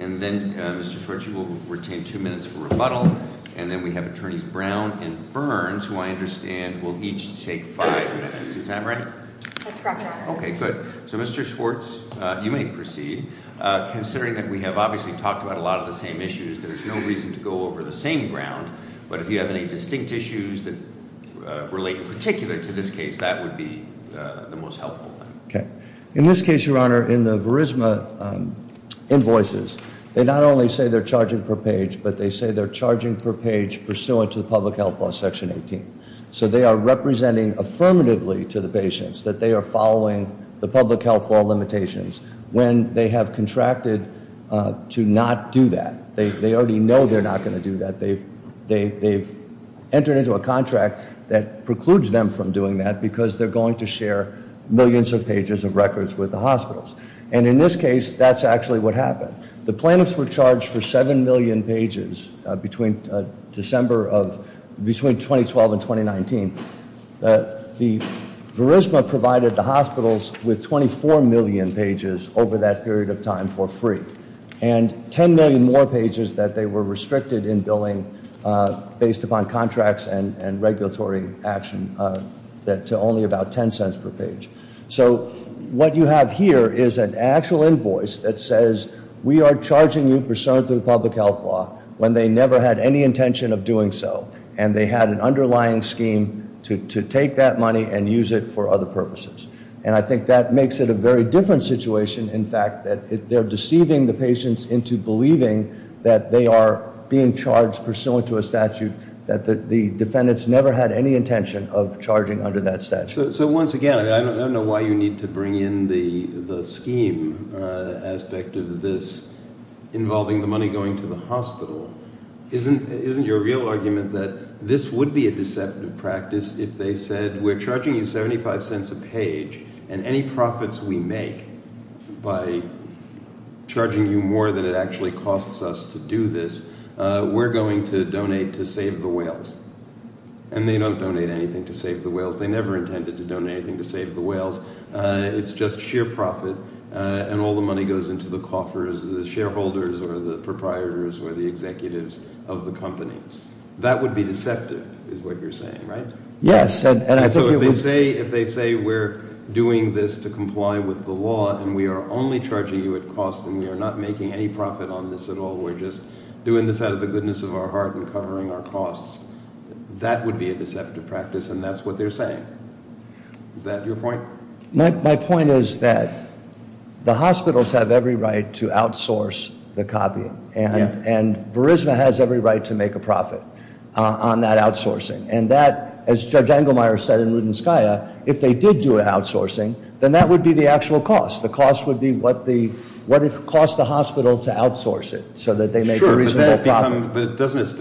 And then, Mr. Schwartz, you will retain two minutes for rebuttal, and then we have Attorneys Brown and Burns, who I understand will each take five minutes, is that right? That's correct. Okay, good. So, Mr. Schwartz, you may proceed. Considering that we have obviously talked about a lot of the same issues, there's no reason to go over the same ground, but if you have any distinct issues that relate in particular to this case, that would be the most helpful thing. Okay. In this case, Your Honor, in the Verisma invoices, they not only say they're charging per page, but they say they're charging per page pursuant to the Public Health Law, Section 18. So they are representing affirmatively to the patients that they are following the Public Health Law limitations when they have contracted to not do that. They already know they're not going to do that. They've entered into a contract that precludes them from doing that because they're going to share millions of pages of records with the hospitals. And in this case, that's actually what happened. The plaintiffs were charged for 7 million pages between December of, between 2012 and 2019. The Verisma provided the hospitals with 24 million pages over that period of time for free. And 10 million more pages that they were restricted in billing based upon contracts and regulatory action to only about 10 cents per page. So what you have here is an actual invoice that says we are charging you pursuant to the Public Health Law when they never had any intention of doing so, and they had an underlying scheme to take that money and use it for other purposes. And I think that makes it a very different situation, in fact, that they're deceiving the patients into believing that they are being charged pursuant to a statute that the defendants never had any intention of charging under that statute. So once again, I don't know why you need to bring in the scheme aspect of this involving the money going to the hospital. Isn't your real argument that this would be a deceptive practice if they said we're charging you 75 cents a page and any profits we make by charging you more than it actually costs us to do this, we're going to donate to save the whales? And they don't donate anything to save the whales. They never intended to donate anything to save the whales. It's just sheer profit, and all the money goes into the coffers of the shareholders or the proprietors or the executives of the companies. That would be deceptive is what you're saying, right? Yes. So if they say we're doing this to comply with the law and we are only charging you at cost and we are not making any profit on this at all, we're just doing this out of the goodness of our heart and covering our costs, that would be a deceptive practice, and that's what they're saying. Is that your point? My point is that the hospitals have every right to outsource the copying, and Verisma has every right to make a profit on that outsourcing. And that, as Judge Engelmeyer said in Rudenskaya, if they did do outsourcing, then that would be the actual cost. The cost would be what it costs the hospital to outsource it so that they make a reasonable profit.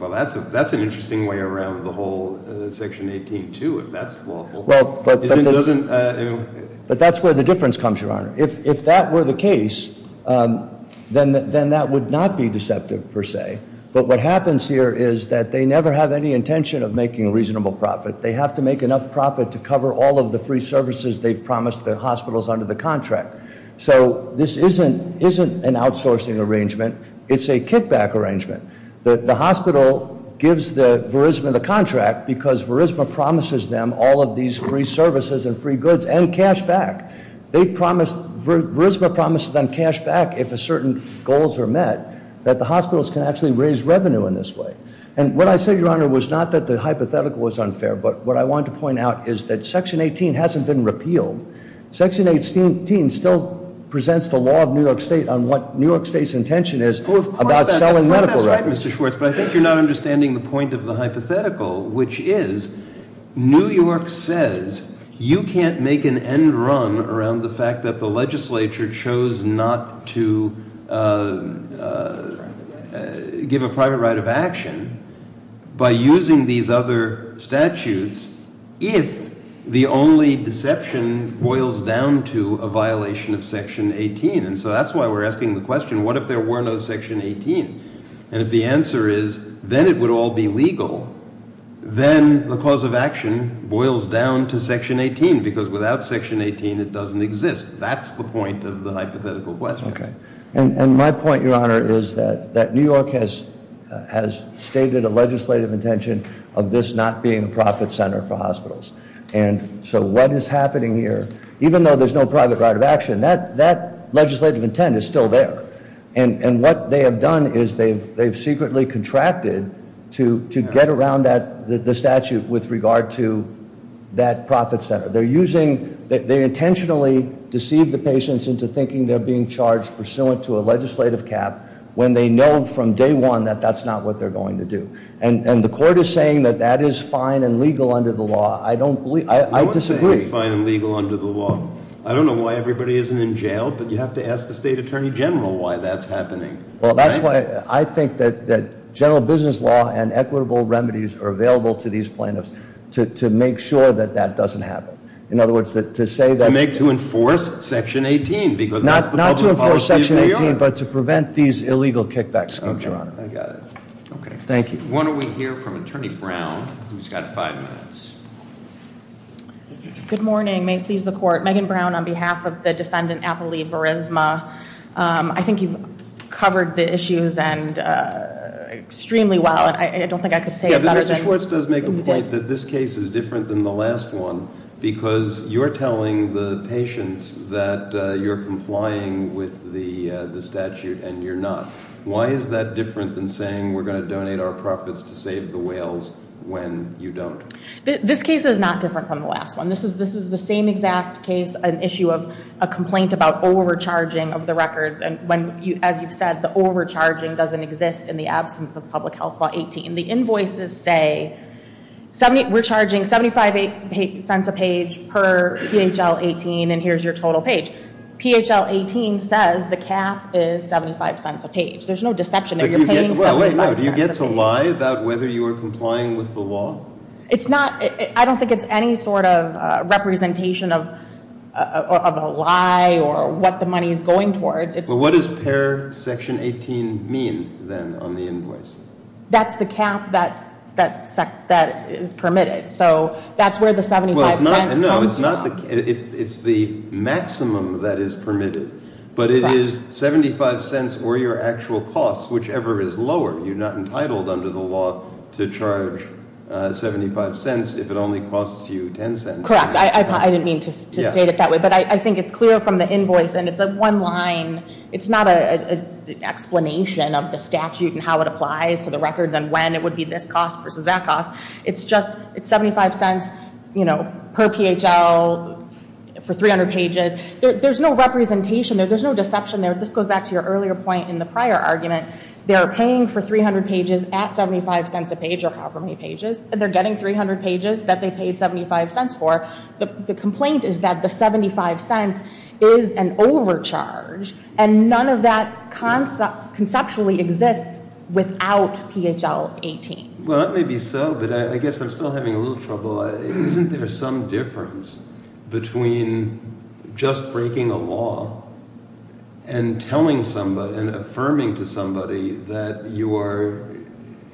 Well, that's an interesting way around the whole Section 18-2, if that's lawful. But that's where the difference comes, Your Honor. If that were the case, then that would not be deceptive, per se. But what happens here is that they never have any intention of making a reasonable profit. They have to make enough profit to cover all of the free services they've promised the hospitals under the contract. So this isn't an outsourcing arrangement. It's a kickback arrangement. The hospital gives Verisma the contract because Verisma promises them all of these free services and free goods and cash back. Verisma promises them cash back if certain goals are met, that the hospitals can actually raise revenue in this way. And what I said, Your Honor, was not that the hypothetical was unfair, but what I wanted to point out is that Section 18 hasn't been repealed. Section 18 still presents the law of New York State on what New York State's intention is about selling medical records. Well, of course, that's right, Mr. Schwartz. But I think you're not understanding the point of the hypothetical, which is New York says you can't make an end run around the fact that the legislature chose not to give a private right of action by using these other statutes if the only deception boils down to a violation of Section 18. And so that's why we're asking the question, what if there were no Section 18? And if the answer is, then it would all be legal, then the cause of action boils down to Section 18 because without Section 18, it doesn't exist. That's the point of the hypothetical question. Okay, and my point, Your Honor, is that New York has stated a legislative intention of this not being a profit center for hospitals. And so what is happening here, even though there's no private right of action, that legislative intent is still there. And what they have done is they've secretly contracted to get around the statute with regard to that profit center. They intentionally deceive the patients into thinking they're being charged pursuant to a legislative cap when they know from day one that that's not what they're going to do. And the court is saying that that is fine and legal under the law. I disagree. I don't say it's fine and legal under the law. I don't know why everybody isn't in jail, but you have to ask the State Attorney General why that's happening. Well, that's why I think that general business law and equitable remedies are available to these plaintiffs to make sure that that doesn't happen. In other words, to say that- To enforce Section 18, because that's the public policy of New York. Not to enforce Section 18, but to prevent these illegal kickbacks, Your Honor. Okay, I got it. Okay. Thank you. Why don't we hear from Attorney Brown, who's got five minutes. Good morning. May it please the Court. Megan Brown on behalf of the defendant, Apolli Verisma. I think you've covered the issues extremely well. I don't think I could say it better than- The court does make a point that this case is different than the last one, because you're telling the patients that you're complying with the statute and you're not. Why is that different than saying we're going to donate our profits to save the whales when you don't? This case is not different from the last one. This is the same exact case, an issue of a complaint about overcharging of the records. As you've said, the overcharging doesn't exist in the absence of Public Health Law 18. The invoices say we're charging $0.75 a page per PHL 18, and here's your total page. PHL 18 says the cap is $0.75 a page. There's no deception there. You're paying $0.75 a page. Do you get to lie about whether you are complying with the law? It's not. I don't think it's any sort of representation of a lie or what the money is going towards. What does pair section 18 mean, then, on the invoice? That's the cap that is permitted, so that's where the $0.75 comes from. No, it's not. It's the maximum that is permitted, but it is $0.75 or your actual cost, whichever is lower. You're not entitled under the law to charge $0.75 if it only costs you $0.10. Correct. I didn't mean to state it that way, but I think it's clear from the invoice, and it's a one-line. It's not an explanation of the statute and how it applies to the records and when it would be this cost versus that cost. It's $0.75 per PHL for 300 pages. There's no representation there. There's no deception there. This goes back to your earlier point in the prior argument. They are paying for 300 pages at $0.75 a page or however many pages, and they're getting 300 pages that they paid $0.75 for. The complaint is that the $0.75 is an overcharge, and none of that conceptually exists without PHL 18. Well, that may be so, but I guess I'm still having a little trouble. Isn't there some difference between just breaking a law and telling somebody and affirming to somebody that you are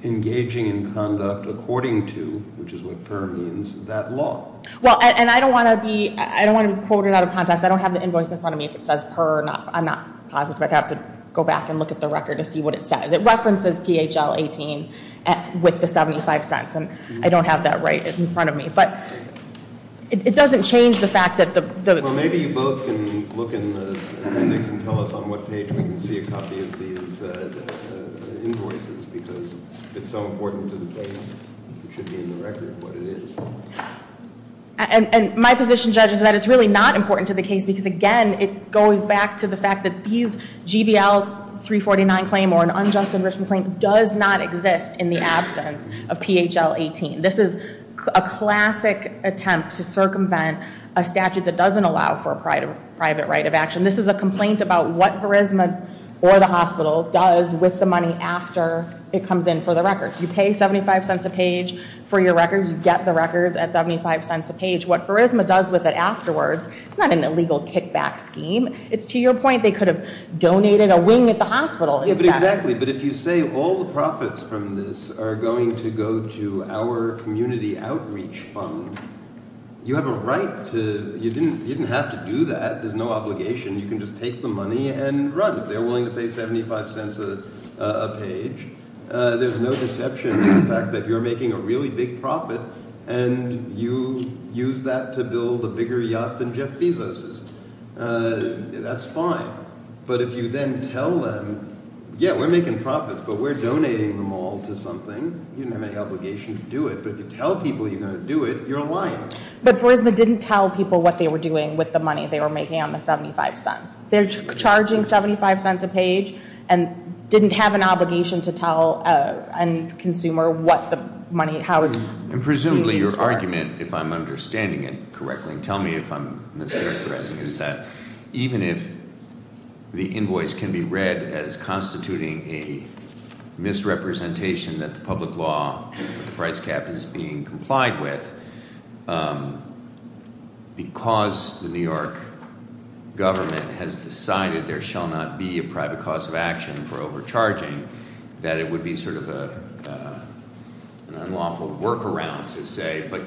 engaging in conduct according to, which is what per means, that law? Well, and I don't want to be quoted out of context. I don't have the invoice in front of me if it says per. I'm not positive. I'd have to go back and look at the record to see what it says. It references PHL 18 with the $0.75, and I don't have that right in front of me. But it doesn't change the fact that the ---- Well, maybe you both can look in the mix and tell us on what page we can see a copy of these invoices because it's so important to the case. It should be in the record what it is. And my position, Judge, is that it's really not important to the case because, again, it goes back to the fact that these GBL 349 claims or an unjust enrichment claim does not exist in the absence of PHL 18. This is a classic attempt to circumvent a statute that doesn't allow for a private right of action. This is a complaint about what Pharisma or the hospital does with the money after it comes in for the records. You pay $0.75 a page for your records. You get the records at $0.75 a page. What Pharisma does with it afterwards, it's not an illegal kickback scheme. It's to your point they could have donated a wing at the hospital. Exactly, but if you say all the profits from this are going to go to our community outreach fund, you have a right to ---- you didn't have to do that. There's no obligation. You can just take the money and run if they're willing to pay $0.75 a page. There's no deception in the fact that you're making a really big profit and you use that to build a bigger yacht than Jeff Bezos's. That's fine. But if you then tell them, yeah, we're making profits, but we're donating them all to something, you didn't have any obligation to do it. But if you tell people you're going to do it, you're lying. But Pharisma didn't tell people what they were doing with the money they were making on the $0.75. They're charging $0.75 a page and didn't have an obligation to tell a consumer what the money, how it's being used for. And presumably your argument, if I'm understanding it correctly, tell me if I'm mischaracterizing it, is that even if the invoice can be read as constituting a misrepresentation that the public law with the price cap is being complied with, because the New York government has decided there shall not be a private cause of action for overcharging, that it would be sort of an unlawful workaround to say, but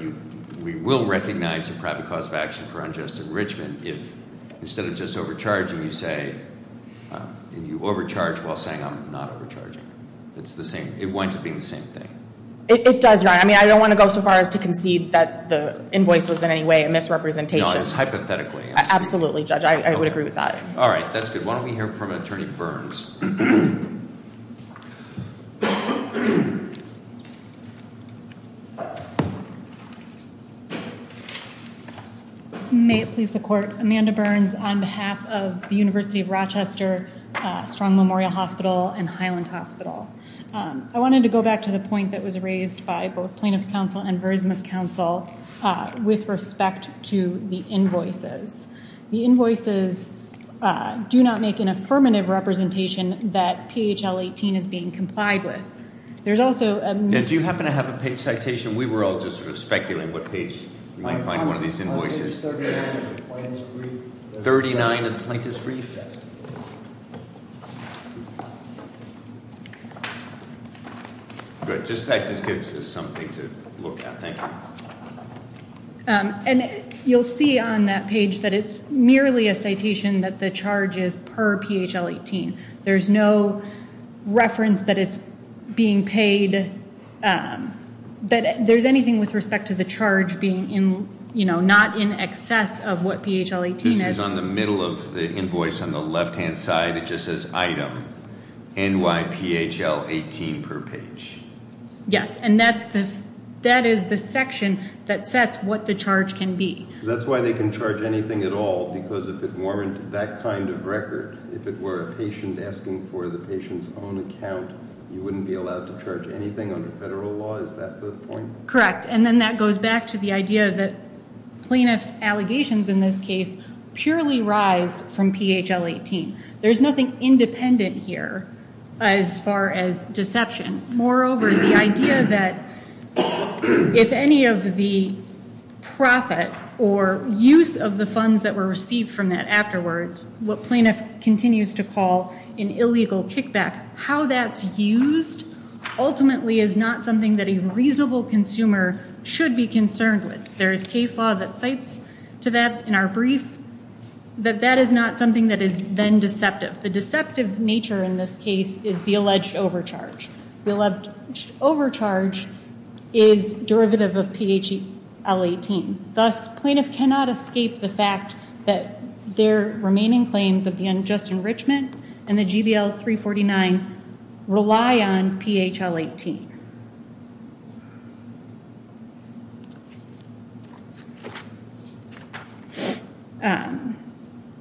we will recognize a private cause of action for unjust enrichment if instead of just overcharging you say, you overcharge while saying I'm not overcharging. It winds up being the same thing. It does, Your Honor. I mean, I don't want to go so far as to concede that the invoice was in any way a misrepresentation. No, it was hypothetically. Absolutely, Judge. I would agree with that. All right. That's good. Why don't we hear from Attorney Burns. May it please the Court. Amanda Burns on behalf of the University of Rochester Strong Memorial Hospital and Highland Hospital. I wanted to go back to the point that was raised by both Plaintiff's Counsel and Verisimus Counsel with respect to the invoices. The invoices do not make an affirmative representation that PHL 18 is being complied with. There's also a mis- Do you happen to have a page citation? We were all just sort of speculating what page we might find one of these invoices. Page 39 of the Plaintiff's Brief. 39 of the Plaintiff's Brief? Yes. Good. That just gives us something to look at. Thank you. And you'll see on that page that it's merely a citation that the charge is per PHL 18. There's no reference that it's being paid. There's anything with respect to the charge being not in excess of what PHL 18 is? This is on the middle of the invoice on the left-hand side. It just says item. NYPHL 18 per page. Yes. And that is the section that sets what the charge can be. That's why they can charge anything at all because if it warranted that kind of record, if it were a patient asking for the patient's own account, you wouldn't be allowed to charge anything under federal law. Is that the point? Correct. And then that goes back to the idea that Plaintiff's allegations in this case purely rise from PHL 18. There's nothing independent here as far as deception. Moreover, the idea that if any of the profit or use of the funds that were received from that afterwards, what Plaintiff continues to call an illegal kickback, how that's used ultimately is not something that a reasonable consumer should be concerned with. There is case law that cites to that in our brief that that is not something that is then deceptive. The deceptive nature in this case is the alleged overcharge. The alleged overcharge is derivative of PHL 18.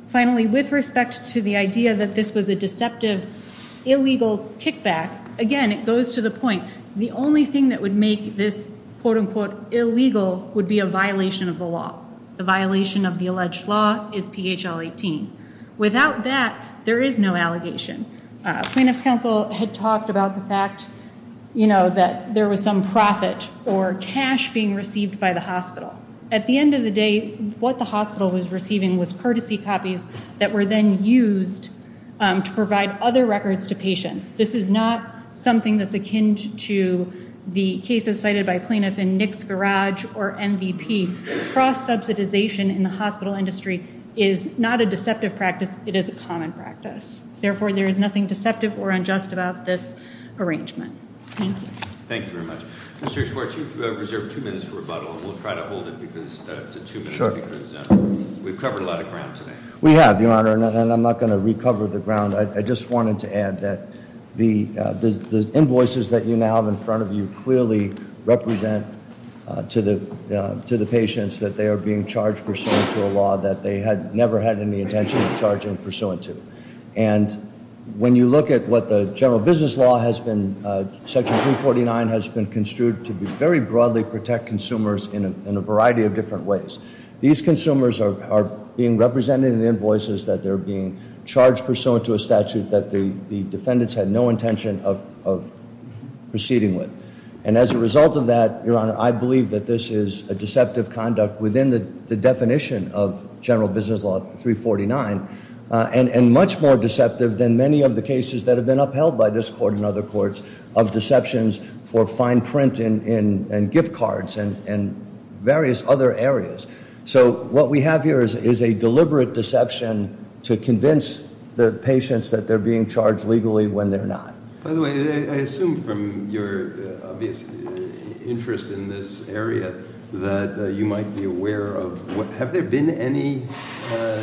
Finally, with respect to the idea that this was a deceptive, illegal kickback, again, it goes to the point, the only thing that would make this quote unquote illegal would be a violation of the law. The violation of the alleged law is PHL 18. Without that, there is no allegation. Plaintiff's counsel had talked about the fact, you know, that there was some profit or cash being received by the hospital. At the end of the day, what the hospital was receiving was courtesy copies that were then used to provide other records to patients. This is not something that's akin to the cases cited by Plaintiff in Nick's Garage or MVP. Cross subsidization in the hospital industry is not a deceptive practice. It is a common practice. Therefore, there is nothing deceptive or unjust about this arrangement. Thank you. Thank you very much. Mr. Schwartz, you've reserved two minutes for rebuttal. We'll try to hold it because it's a two-minute because we've covered a lot of ground today. We have, Your Honor, and I'm not going to recover the ground. I just wanted to add that the invoices that you now have in front of you clearly represent to the patients that they are being charged pursuant to a law that they had never had any intention of charging pursuant to. And when you look at what the general business law has been, Section 349 has been construed to be very broadly protect consumers in a variety of different ways. These consumers are being represented in the invoices that they're being charged pursuant to a statute that the defendants had no intention of proceeding with. And as a result of that, Your Honor, I believe that this is a deceptive conduct within the definition of general business law 349 and much more deceptive than many of the cases that have been upheld by this court and other courts of deceptions for fine print and gift cards and various other areas. So what we have here is a deliberate deception to convince the patients that they're being charged legally when they're not. By the way, I assume from your obvious interest in this area that you might be aware of, have there been any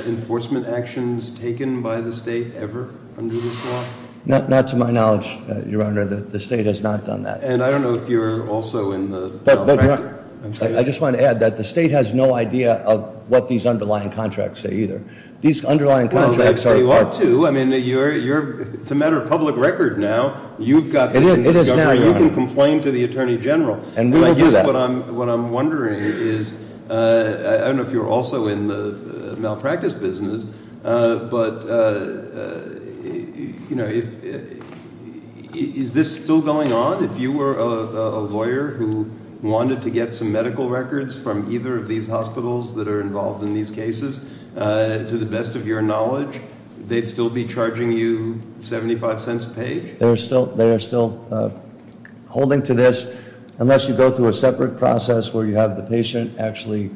enforcement actions taken by the state ever under this law? Not to my knowledge, Your Honor. The state has not done that. And I don't know if you're also in the- But Your Honor, I just wanted to add that the state has no idea of what these underlying contracts say either. These underlying contracts are- It is now, Your Honor. You can complain to the Attorney General. And we will do that. And I guess what I'm wondering is, I don't know if you're also in the malpractice business, but is this still going on? If you were a lawyer who wanted to get some medical records from either of these hospitals that are involved in these cases, to the best of your knowledge, they'd still be charging you $0.75 a page? They are still holding to this, unless you go through a separate process where you have the patient actually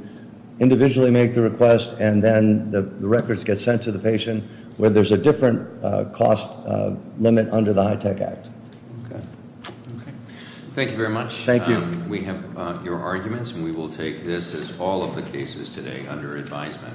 individually make the request, and then the records get sent to the patient where there's a different cost limit under the HITECH Act. Okay. Okay. Thank you very much. Thank you. We have your arguments, and we will take this as all of the cases today under advisement.